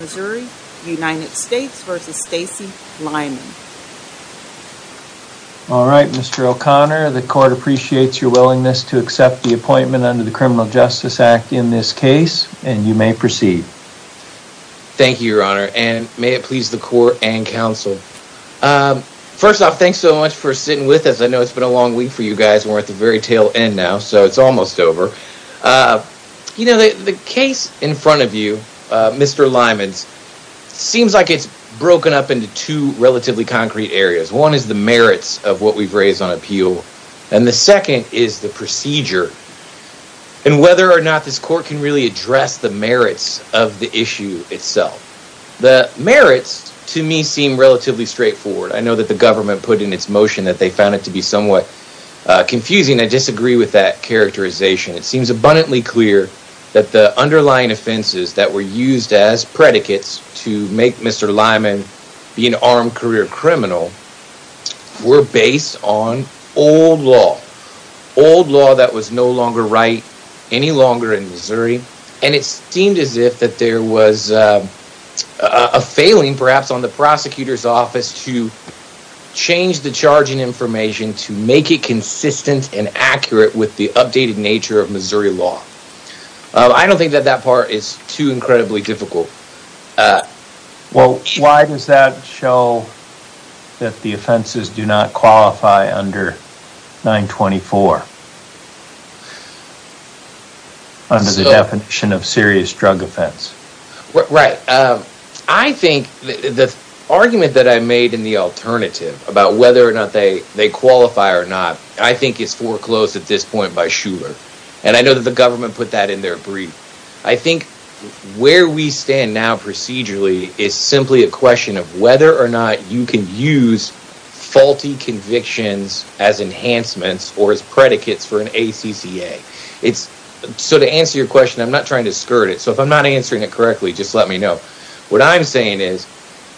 Alright Mr. O'Connor the court appreciates your willingness to accept the appointment under the Criminal Justice Act in this case and you may proceed. Thank you your honor and may it please the court and counsel. First off thanks so much for sitting with us I know it's been a long week for you guys we're at the very tail end now so it's almost over. You know the case in front of you Mr. Lyman's seems like it's broken up into two relatively concrete areas one is the merits of what we've raised on appeal and the second is the procedure and whether or not this court can really address the merits of the issue itself. The merits to me seem relatively straightforward I know that the government put in its motion that they found it to be somewhat confusing I disagree with that characterization it seems abundantly clear that the underlying offenses that were used as predicates to make Mr. Lyman be an armed career criminal were based on old law old law that was no longer right any longer in Missouri and it seemed as if there was a failing perhaps on the prosecutor's information to make it consistent and accurate with the updated nature of Missouri law. I don't think that that part is too incredibly difficult. Well why does that show that the offenses do not qualify under 924 under the definition of serious drug offense? I think the argument that I made in the alternative about whether or not they they qualify or not I think it's foreclosed at this point by Shuler and I know that the government put that in their brief I think where we stand now procedurally is simply a question of whether or not you can use faulty convictions as enhancements or as predicates for an ACCA it's so to answer your question I'm not trying to skirt it so if I'm not answering it correctly just let me know what I'm saying is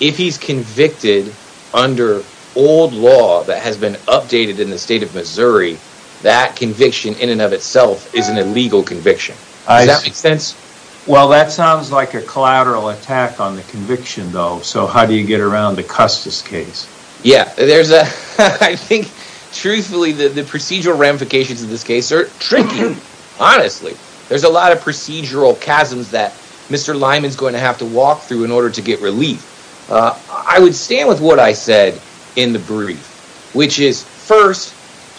if he's convicted under old law that has been updated in the state of Missouri that conviction in and of itself is an illegal conviction. Well that sounds like a collateral attack on the conviction though so how do you get around the Custis case? Yeah there's a I think truthfully the procedural ramifications of this case are tricky honestly there's a lot of procedural chasms that Mr. Lyman is going to have to walk through in order to get relief I would stand with what I said in the brief which is first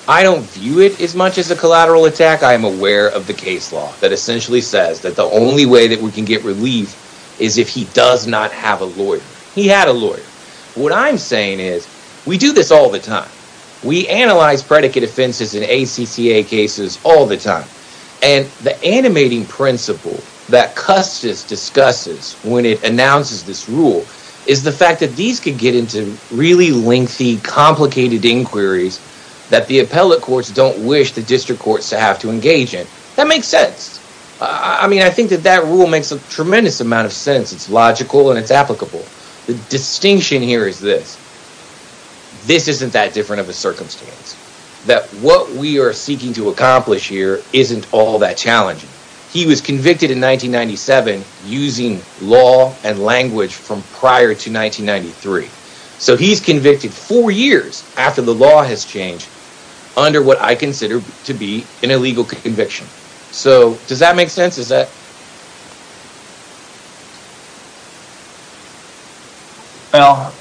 I don't view it as much as a collateral attack I am aware of the case law that essentially says that the only way that we can get relief is if he does not have a lawyer he had a lawyer what I'm saying is we do this all the time we analyze predicate offenses in ACCA cases all the time and the animating principle that Custis discusses when it announces this rule is the fact that these could get into really lengthy complicated inquiries that the appellate courts don't wish the district courts to have to engage in that makes sense I mean I think that that rule makes a tremendous amount of sense it's logical and this isn't that different of a circumstance that what we are seeking to accomplish here isn't all that challenging he was convicted in 1997 using law and language from prior to 1993 so he's convicted four years after the law has changed under what I consider to be an well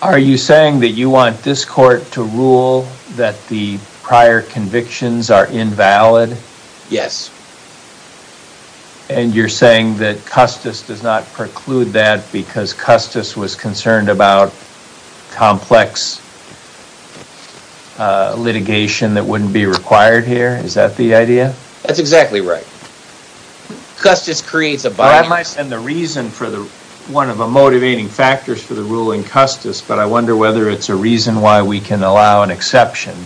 are you saying that you want this court to rule that the prior convictions are invalid yes and you're saying that Custis does not preclude that because Custis was concerned about complex litigation that wouldn't be required here is that the idea that's exactly right Custis creates a and the reason for the one of the motivating factors for the ruling Custis but I wonder whether it's a reason why we can allow an exception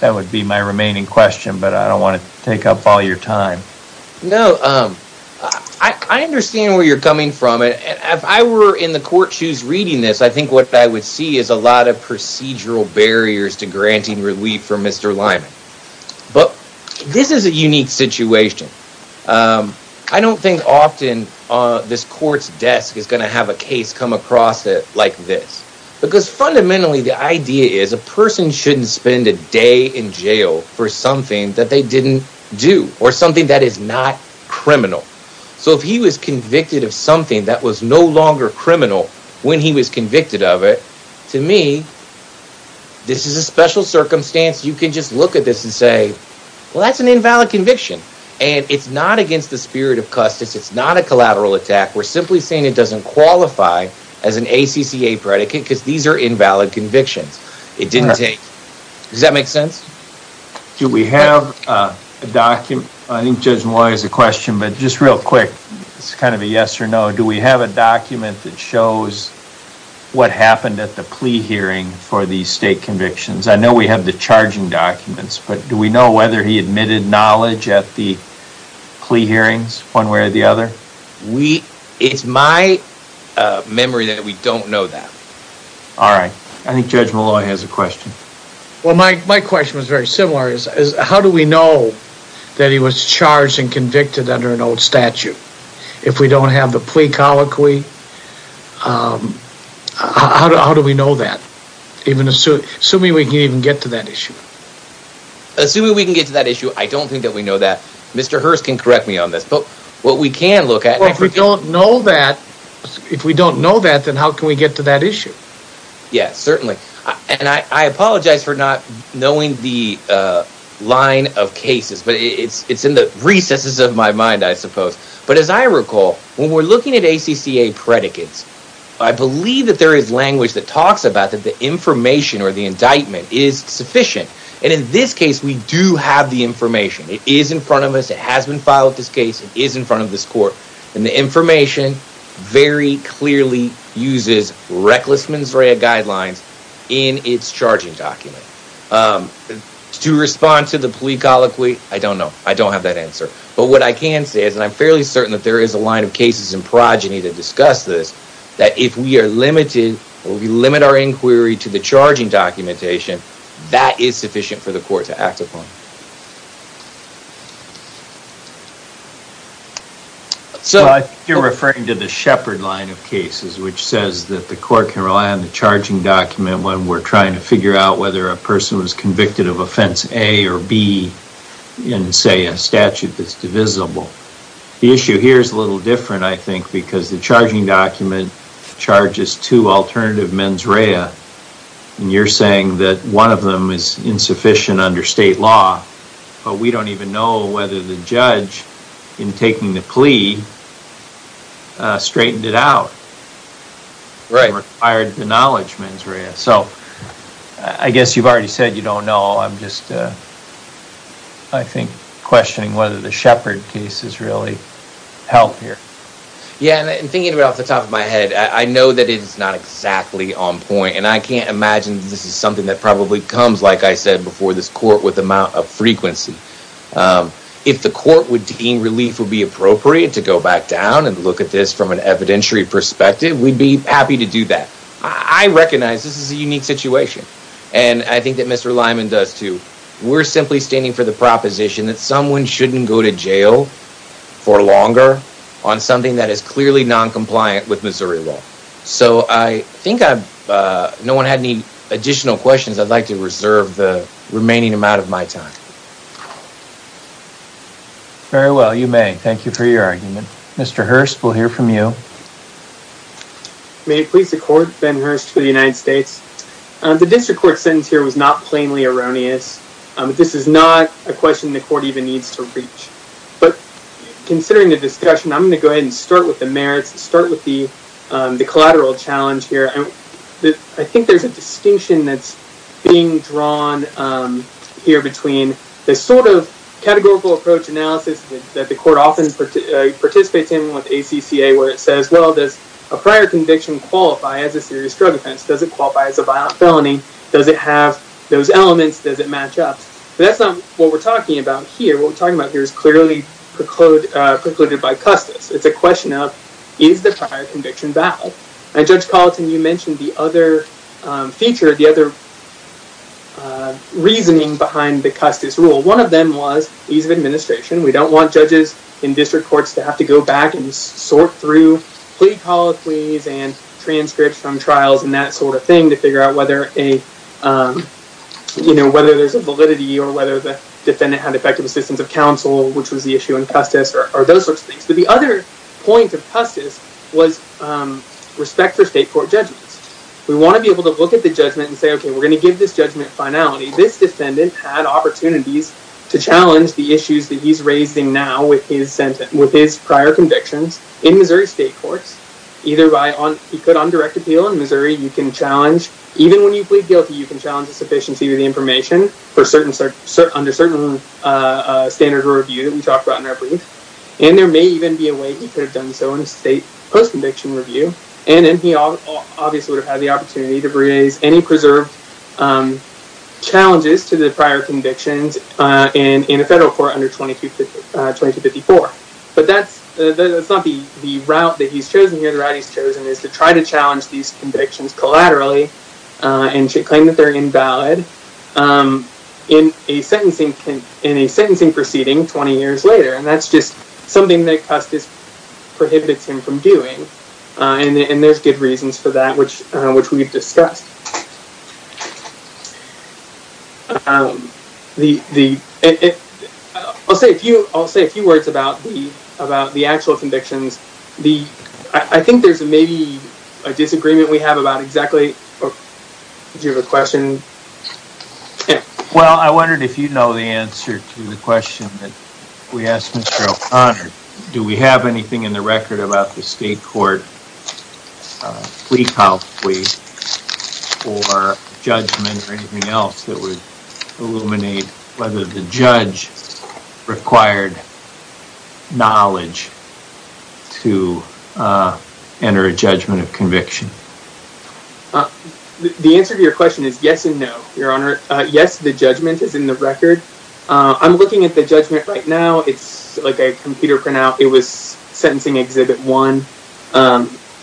that would be my remaining question but I don't want to take up all your time no I understand where you're coming from it if I were in the court shoes reading this I think what I would see is a lot of procedural barriers to this court's desk is gonna have a case come across it like this because fundamentally the idea is a person shouldn't spend a day in jail for something that they didn't do or something that is not criminal so if he was convicted of something that was no longer criminal when he was convicted of it to me this is a special circumstance you can just look at this and say well that's an invalid conviction and it's not against the spirit of Custis it's not a collateral attack we're simply saying it doesn't qualify as an ACCA predicate because these are invalid convictions it didn't take does that make sense do we have a document I think judge Moy is a question but just real quick it's kind of a yes or no do we have a document that shows what happened at the plea hearing for these state convictions I know we have the charging documents but do we know whether he admitted knowledge at the plea hearings one way or the other we it's my memory that we don't know that all right I think judge Malloy has a question well my question was very similar is how do we know that he was charged and convicted under an old statute if we don't have a plea colloquy how do we know that even assuming we can even get to that issue assuming we can get to that issue I don't think that we know that mr. Hearst can correct me on this but what we can look at what we don't know that if we don't know that then how can we get to that issue yes certainly and I apologize for not knowing the line of cases but it's it's in the recesses of my mind I suppose but as I recall when we're looking at ACCA predicates I believe that there is language that talks about that the information or the indictment is sufficient and in this case we do have the information it is in front of us it has been filed this case it is in front of this court and the information very clearly uses reckless mens rea guidelines in its charging document to respond to the plea colloquy I don't know I don't have that answer but what I can say is and I'm fairly certain that there is a line of cases in progeny to discuss this that if we are limited or we limit our inquiry to the charging documentation that is sufficient for the court to act upon so you're referring to the Shepherd line of cases which says that the court can rely on the charging document when we're trying to figure out whether a person was convicted of offense A or B in say a statute that's divisible the issue here is a little different I think because the charging document charges to alternative mens rea and you're saying that one of them is insufficient under state law but we don't even know whether the judge in taking the plea straightened it out right required the knowledge mens rea so I guess you've already said you don't know I'm I think questioning whether the Shepherd case is really healthier yeah and thinking about the top of my head I know that it's not exactly on point and I can't imagine this is something that probably comes like I said before this court with the amount of frequency if the court would deem relief would be appropriate to go back down and look at this from an evidentiary perspective we'd be happy to do that I recognize this is a unique situation and I think that mr. Lyman does too we're simply standing for the proposition that someone shouldn't go to jail for longer on something that is clearly non-compliant with Missouri law so I think I've no one had any additional questions I'd like to reserve the remaining amount of my time very well you may thank you for your argument mr. Hurst we'll hear from you may it please the court Ben Hurst for the United States the district court sentence here was not plainly erroneous this is not a question the court even needs to reach but considering the discussion I'm going to go ahead and start with the merits start with the the collateral challenge here and I think there's a distinction that's being drawn here between the categorical approach analysis that the court often participates in with ACCA where it says well there's a prior conviction qualify as a serious drug offense does it qualify as a violent felony does it have those elements does it match up that's not what we're talking about here what we're talking about here is clearly precluded by Custis it's a question of is the prior conviction and Judge Colleton you mentioned the other feature the other reasoning behind the Custis rule one of them was ease of administration we don't want judges in district courts to have to go back and sort through plea colloquies and transcripts from trials and that sort of thing to figure out whether a you know whether there's a validity or whether the defendant had effective assistance of counsel which was the issue in Custis or those sorts of things but the other point of Custis was respect for state court judgments we want to be able to look at the judgment and say okay we're going to give this judgment finality this defendant had opportunities to challenge the issues that he's raising now with his sentence with his prior convictions in Missouri state courts either by on he could on direct appeal in Missouri you can challenge even when you plead guilty you can challenge the sufficiency of the information for certain certain under certain standard or review that we talked about in our brief and there may even be a done so in a state post-conviction review and then he obviously would have had the opportunity to raise any preserved challenges to the prior convictions and in a federal court under 2254 but that's not be the route that he's chosen here the right he's chosen is to try to challenge these convictions collaterally and should claim that they're invalid in a sentencing in a sentencing proceeding 20 years later and that's just something that Custis prohibits him from doing and there's good reasons for that which which we've discussed the the I'll say a few I'll say a few words about the about the actual convictions the I think there's maybe a disagreement we have about exactly you have a question well I wondered if you know the answer to the question that we asked mr. O'Connor do we have anything in the record about the state court week out please or judgment or anything else that would illuminate whether the judge required knowledge to enter a the answer to your question is yes and no your honor yes the judgment is in the record I'm looking at the judgment right now it's like a computer printout it was sentencing exhibit one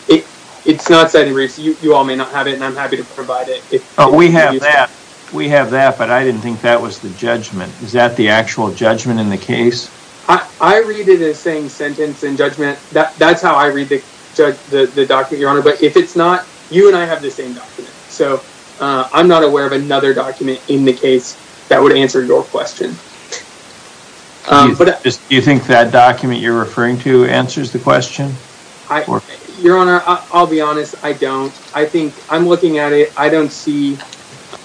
it it's not said in recent you all may not have it and I'm happy to provide it we have that we have that but I didn't think that was the judgment is that the actual judgment in the case I read it as saying sentence and judgment that that's how I read the judge the doctor your honor but if it's not you and I have the same document so I'm not aware of another document in the case that would answer your question but you think that document you're referring to answers the question I your honor I'll be honest I don't I think I'm looking at it I don't see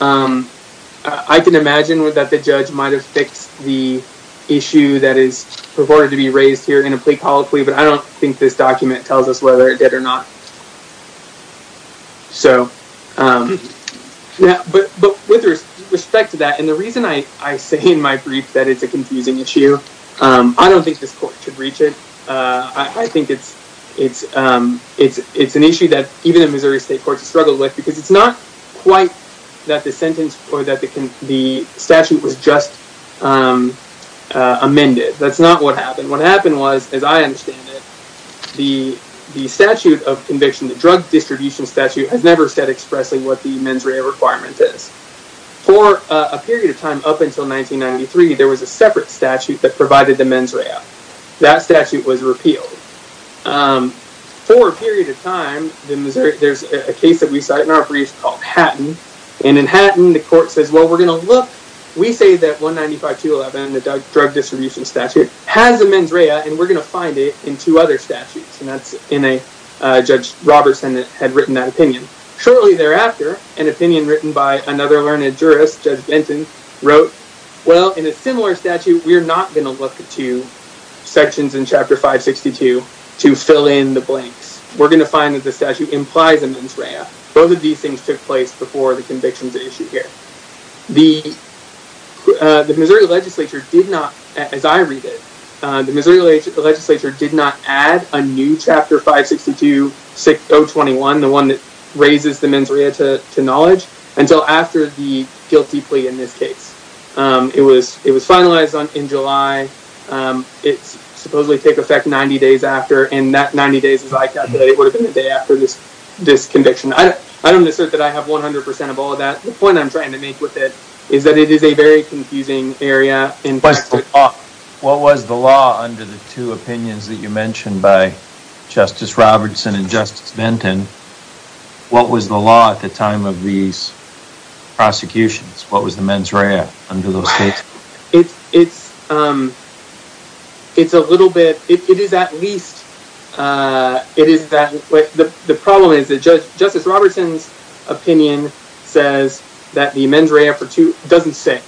I can imagine with that the judge might have fixed the issue that is reported to be raised here in a plea colloquy but I don't think this document tells us whether it did or not so yeah but with respect to that and the reason I I say in my brief that it's a confusing issue I don't think this court should reach it I think it's it's it's it's an issue that even in Missouri State courts struggle with because it's not quite that the sentence or that they can the statute was just amended that's not what happened what was as I understand it the the statute of conviction the drug distribution statute has never said expressing what the mens rea requirement is for a period of time up until 1993 there was a separate statute that provided the mens rea that statute was repealed for a period of time the Missouri there's a case that we cite in our briefs called Hatton and in Hatton the court says well we're gonna look we say that 195 211 the drug distribution statute has a mens rea and we're gonna find it in two other statutes and that's in a judge Robertson that had written that opinion shortly thereafter an opinion written by another learned jurist judge Benton wrote well in a similar statute we're not gonna look at two sections in chapter 562 to fill in the blanks we're gonna find that the statute implies a mens rea both of these things took place before the the Missouri legislature did not as I read it the Missouri legislature did not add a new chapter 562 6021 the one that raises the mens rea to knowledge until after the guilty plea in this case it was it was finalized on in July it's supposedly take effect 90 days after and that 90 days like that it would have been the day after this this conviction I don't assert that I have 100% of all that the point I'm trying to make with it is that it is a very confusing area in place to talk what was the law under the two opinions that you mentioned by justice Robertson and justice Benton what was the law at the time of these prosecutions what was the mens rea under it's it's a little bit it is at least it is that the problem is that justice Robertson's opinion says that the mens rea for two doesn't say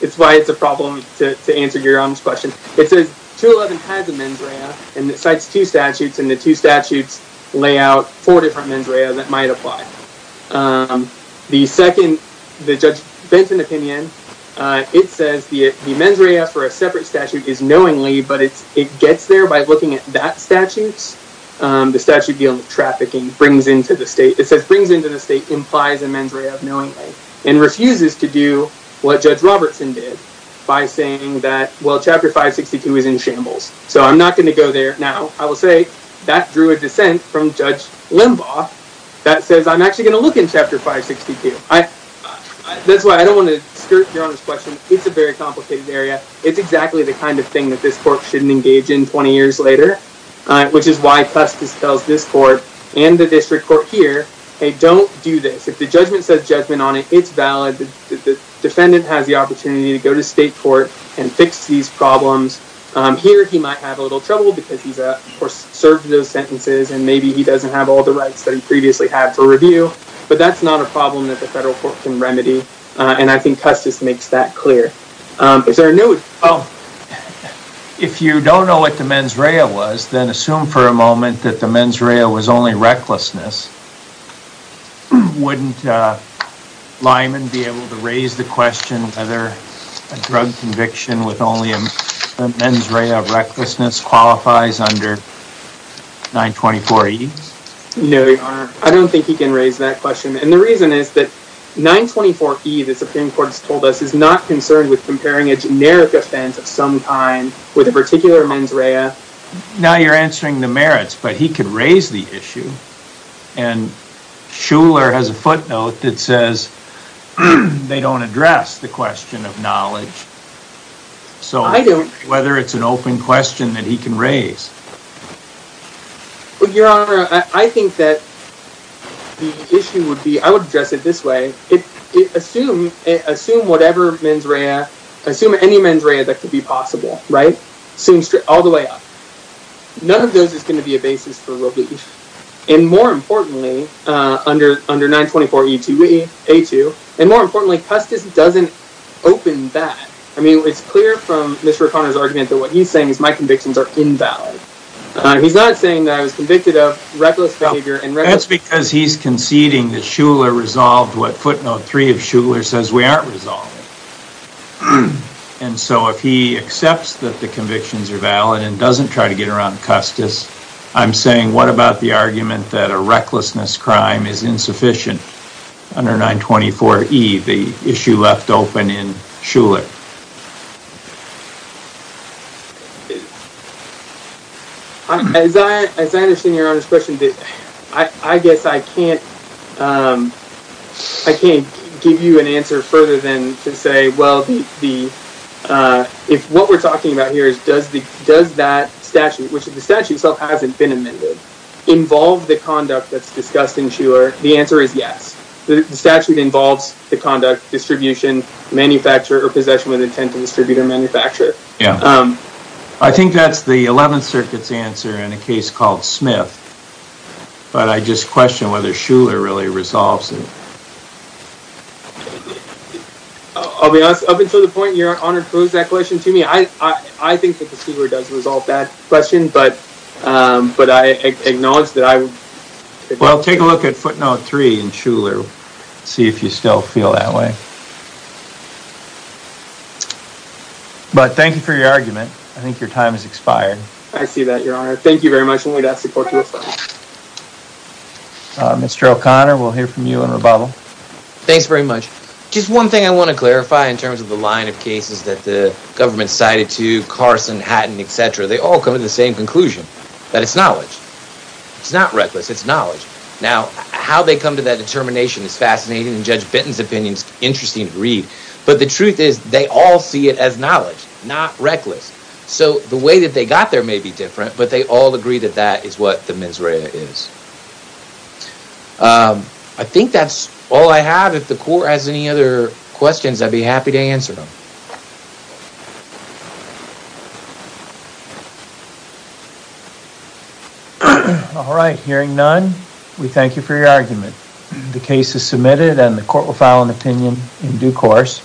it's why it's a problem to answer your honest question it says 211 has a mens rea and it cites two statutes and the two statutes lay four different mens rea that might apply the second the judge Benton opinion it says the mens rea for a separate statute is knowingly but it's it gets there by looking at that statutes the statute dealing with trafficking brings into the state it says brings into the state implies a mens rea of knowingly and refuses to do what judge Robertson did by saying that well chapter 562 is in shambles so I'm not going to go there now I will say that drew a dissent from judge Limbaugh that says I'm actually gonna look in chapter 562 I that's why I don't want to skirt your honor's question it's a very complicated area it's exactly the kind of thing that this court shouldn't engage in 20 years later which is why Custis tells this court and the district court here hey don't do this if the judgment says judgment on it it's valid the defendant has the opportunity to go to state court and fix these problems here he might have a little trouble because he's a course served those sentences and maybe he doesn't have all the rights that he previously had for review but that's not a problem that the federal court can remedy and I think Custis makes that clear is there a new oh if you don't know what the mens rea was then assume for a moment that the mens rea was only recklessness wouldn't Lyman be able to raise the question whether a drug conviction with only a mens rea of recklessness qualifies under 924 e no I don't think he can raise that question and the reason is that 924 e the Supreme Court has told us is not concerned with comparing a generic offense of some time with a particular mens rea now you're answering the merits but he could raise the issue and Schuller has a footnote that says they don't address the question of knowledge so I don't whether it's an open question that he can raise but your honor I think that the issue would be I would address it this way it assume it assume whatever mens rea assume any mens rea that could be possible right seems true all the way up none of those is going to be a basis for relief and more importantly under under 924 e2e a2 and more importantly Custis doesn't open that I mean it's clear from Mr. O'Connor's argument that what he's saying is my convictions are invalid he's not saying that I was convicted of reckless behavior and that's because he's conceding that Schuller resolved what footnote 3 of Schuller says we aren't resolved and so if he accepts that the convictions are valid and doesn't try to get around Custis I'm saying what about the argument that a recklessness crime is insufficient under 924 e the issue left open in Schuller as I understand your honor's question I guess I can't I can't give you an answer further than to say well the if what we're talking about here is does the does that statute which is the statute self hasn't been amended involve the conduct that's discussed in Schuller the answer is yes the statute involves the conduct distribution manufacturer or possession with intent to distribute or manufacture yeah I think that's the 11th circuits answer in a case called Smith but I just question whether Schuller really resolves it I'll be honest up until the point you're honored pose that question to me I I think that question but but I acknowledge that I well take a look at footnote 3 in Schuller see if you still feel that way but thank you for your argument I think your time has expired I see that your honor thank you very much only that support you Mr. O'Connor we'll hear from you in rebuttal thanks very much just one thing I want to clarify in terms of the line of cases that the government cited to Carson Hatton etc they all come to the same conclusion that it's knowledge it's not reckless it's knowledge now how they come to that determination is fascinating and judge Benton's opinions interesting read but the truth is they all see it as knowledge not reckless so the way that they got there may be different but they all agree that that is what the mens rea is I think that's all I have if the court has any other questions I'd be happy to answer them all right hearing none we thank you for your argument the case is submitted and the court will file an opinion in due course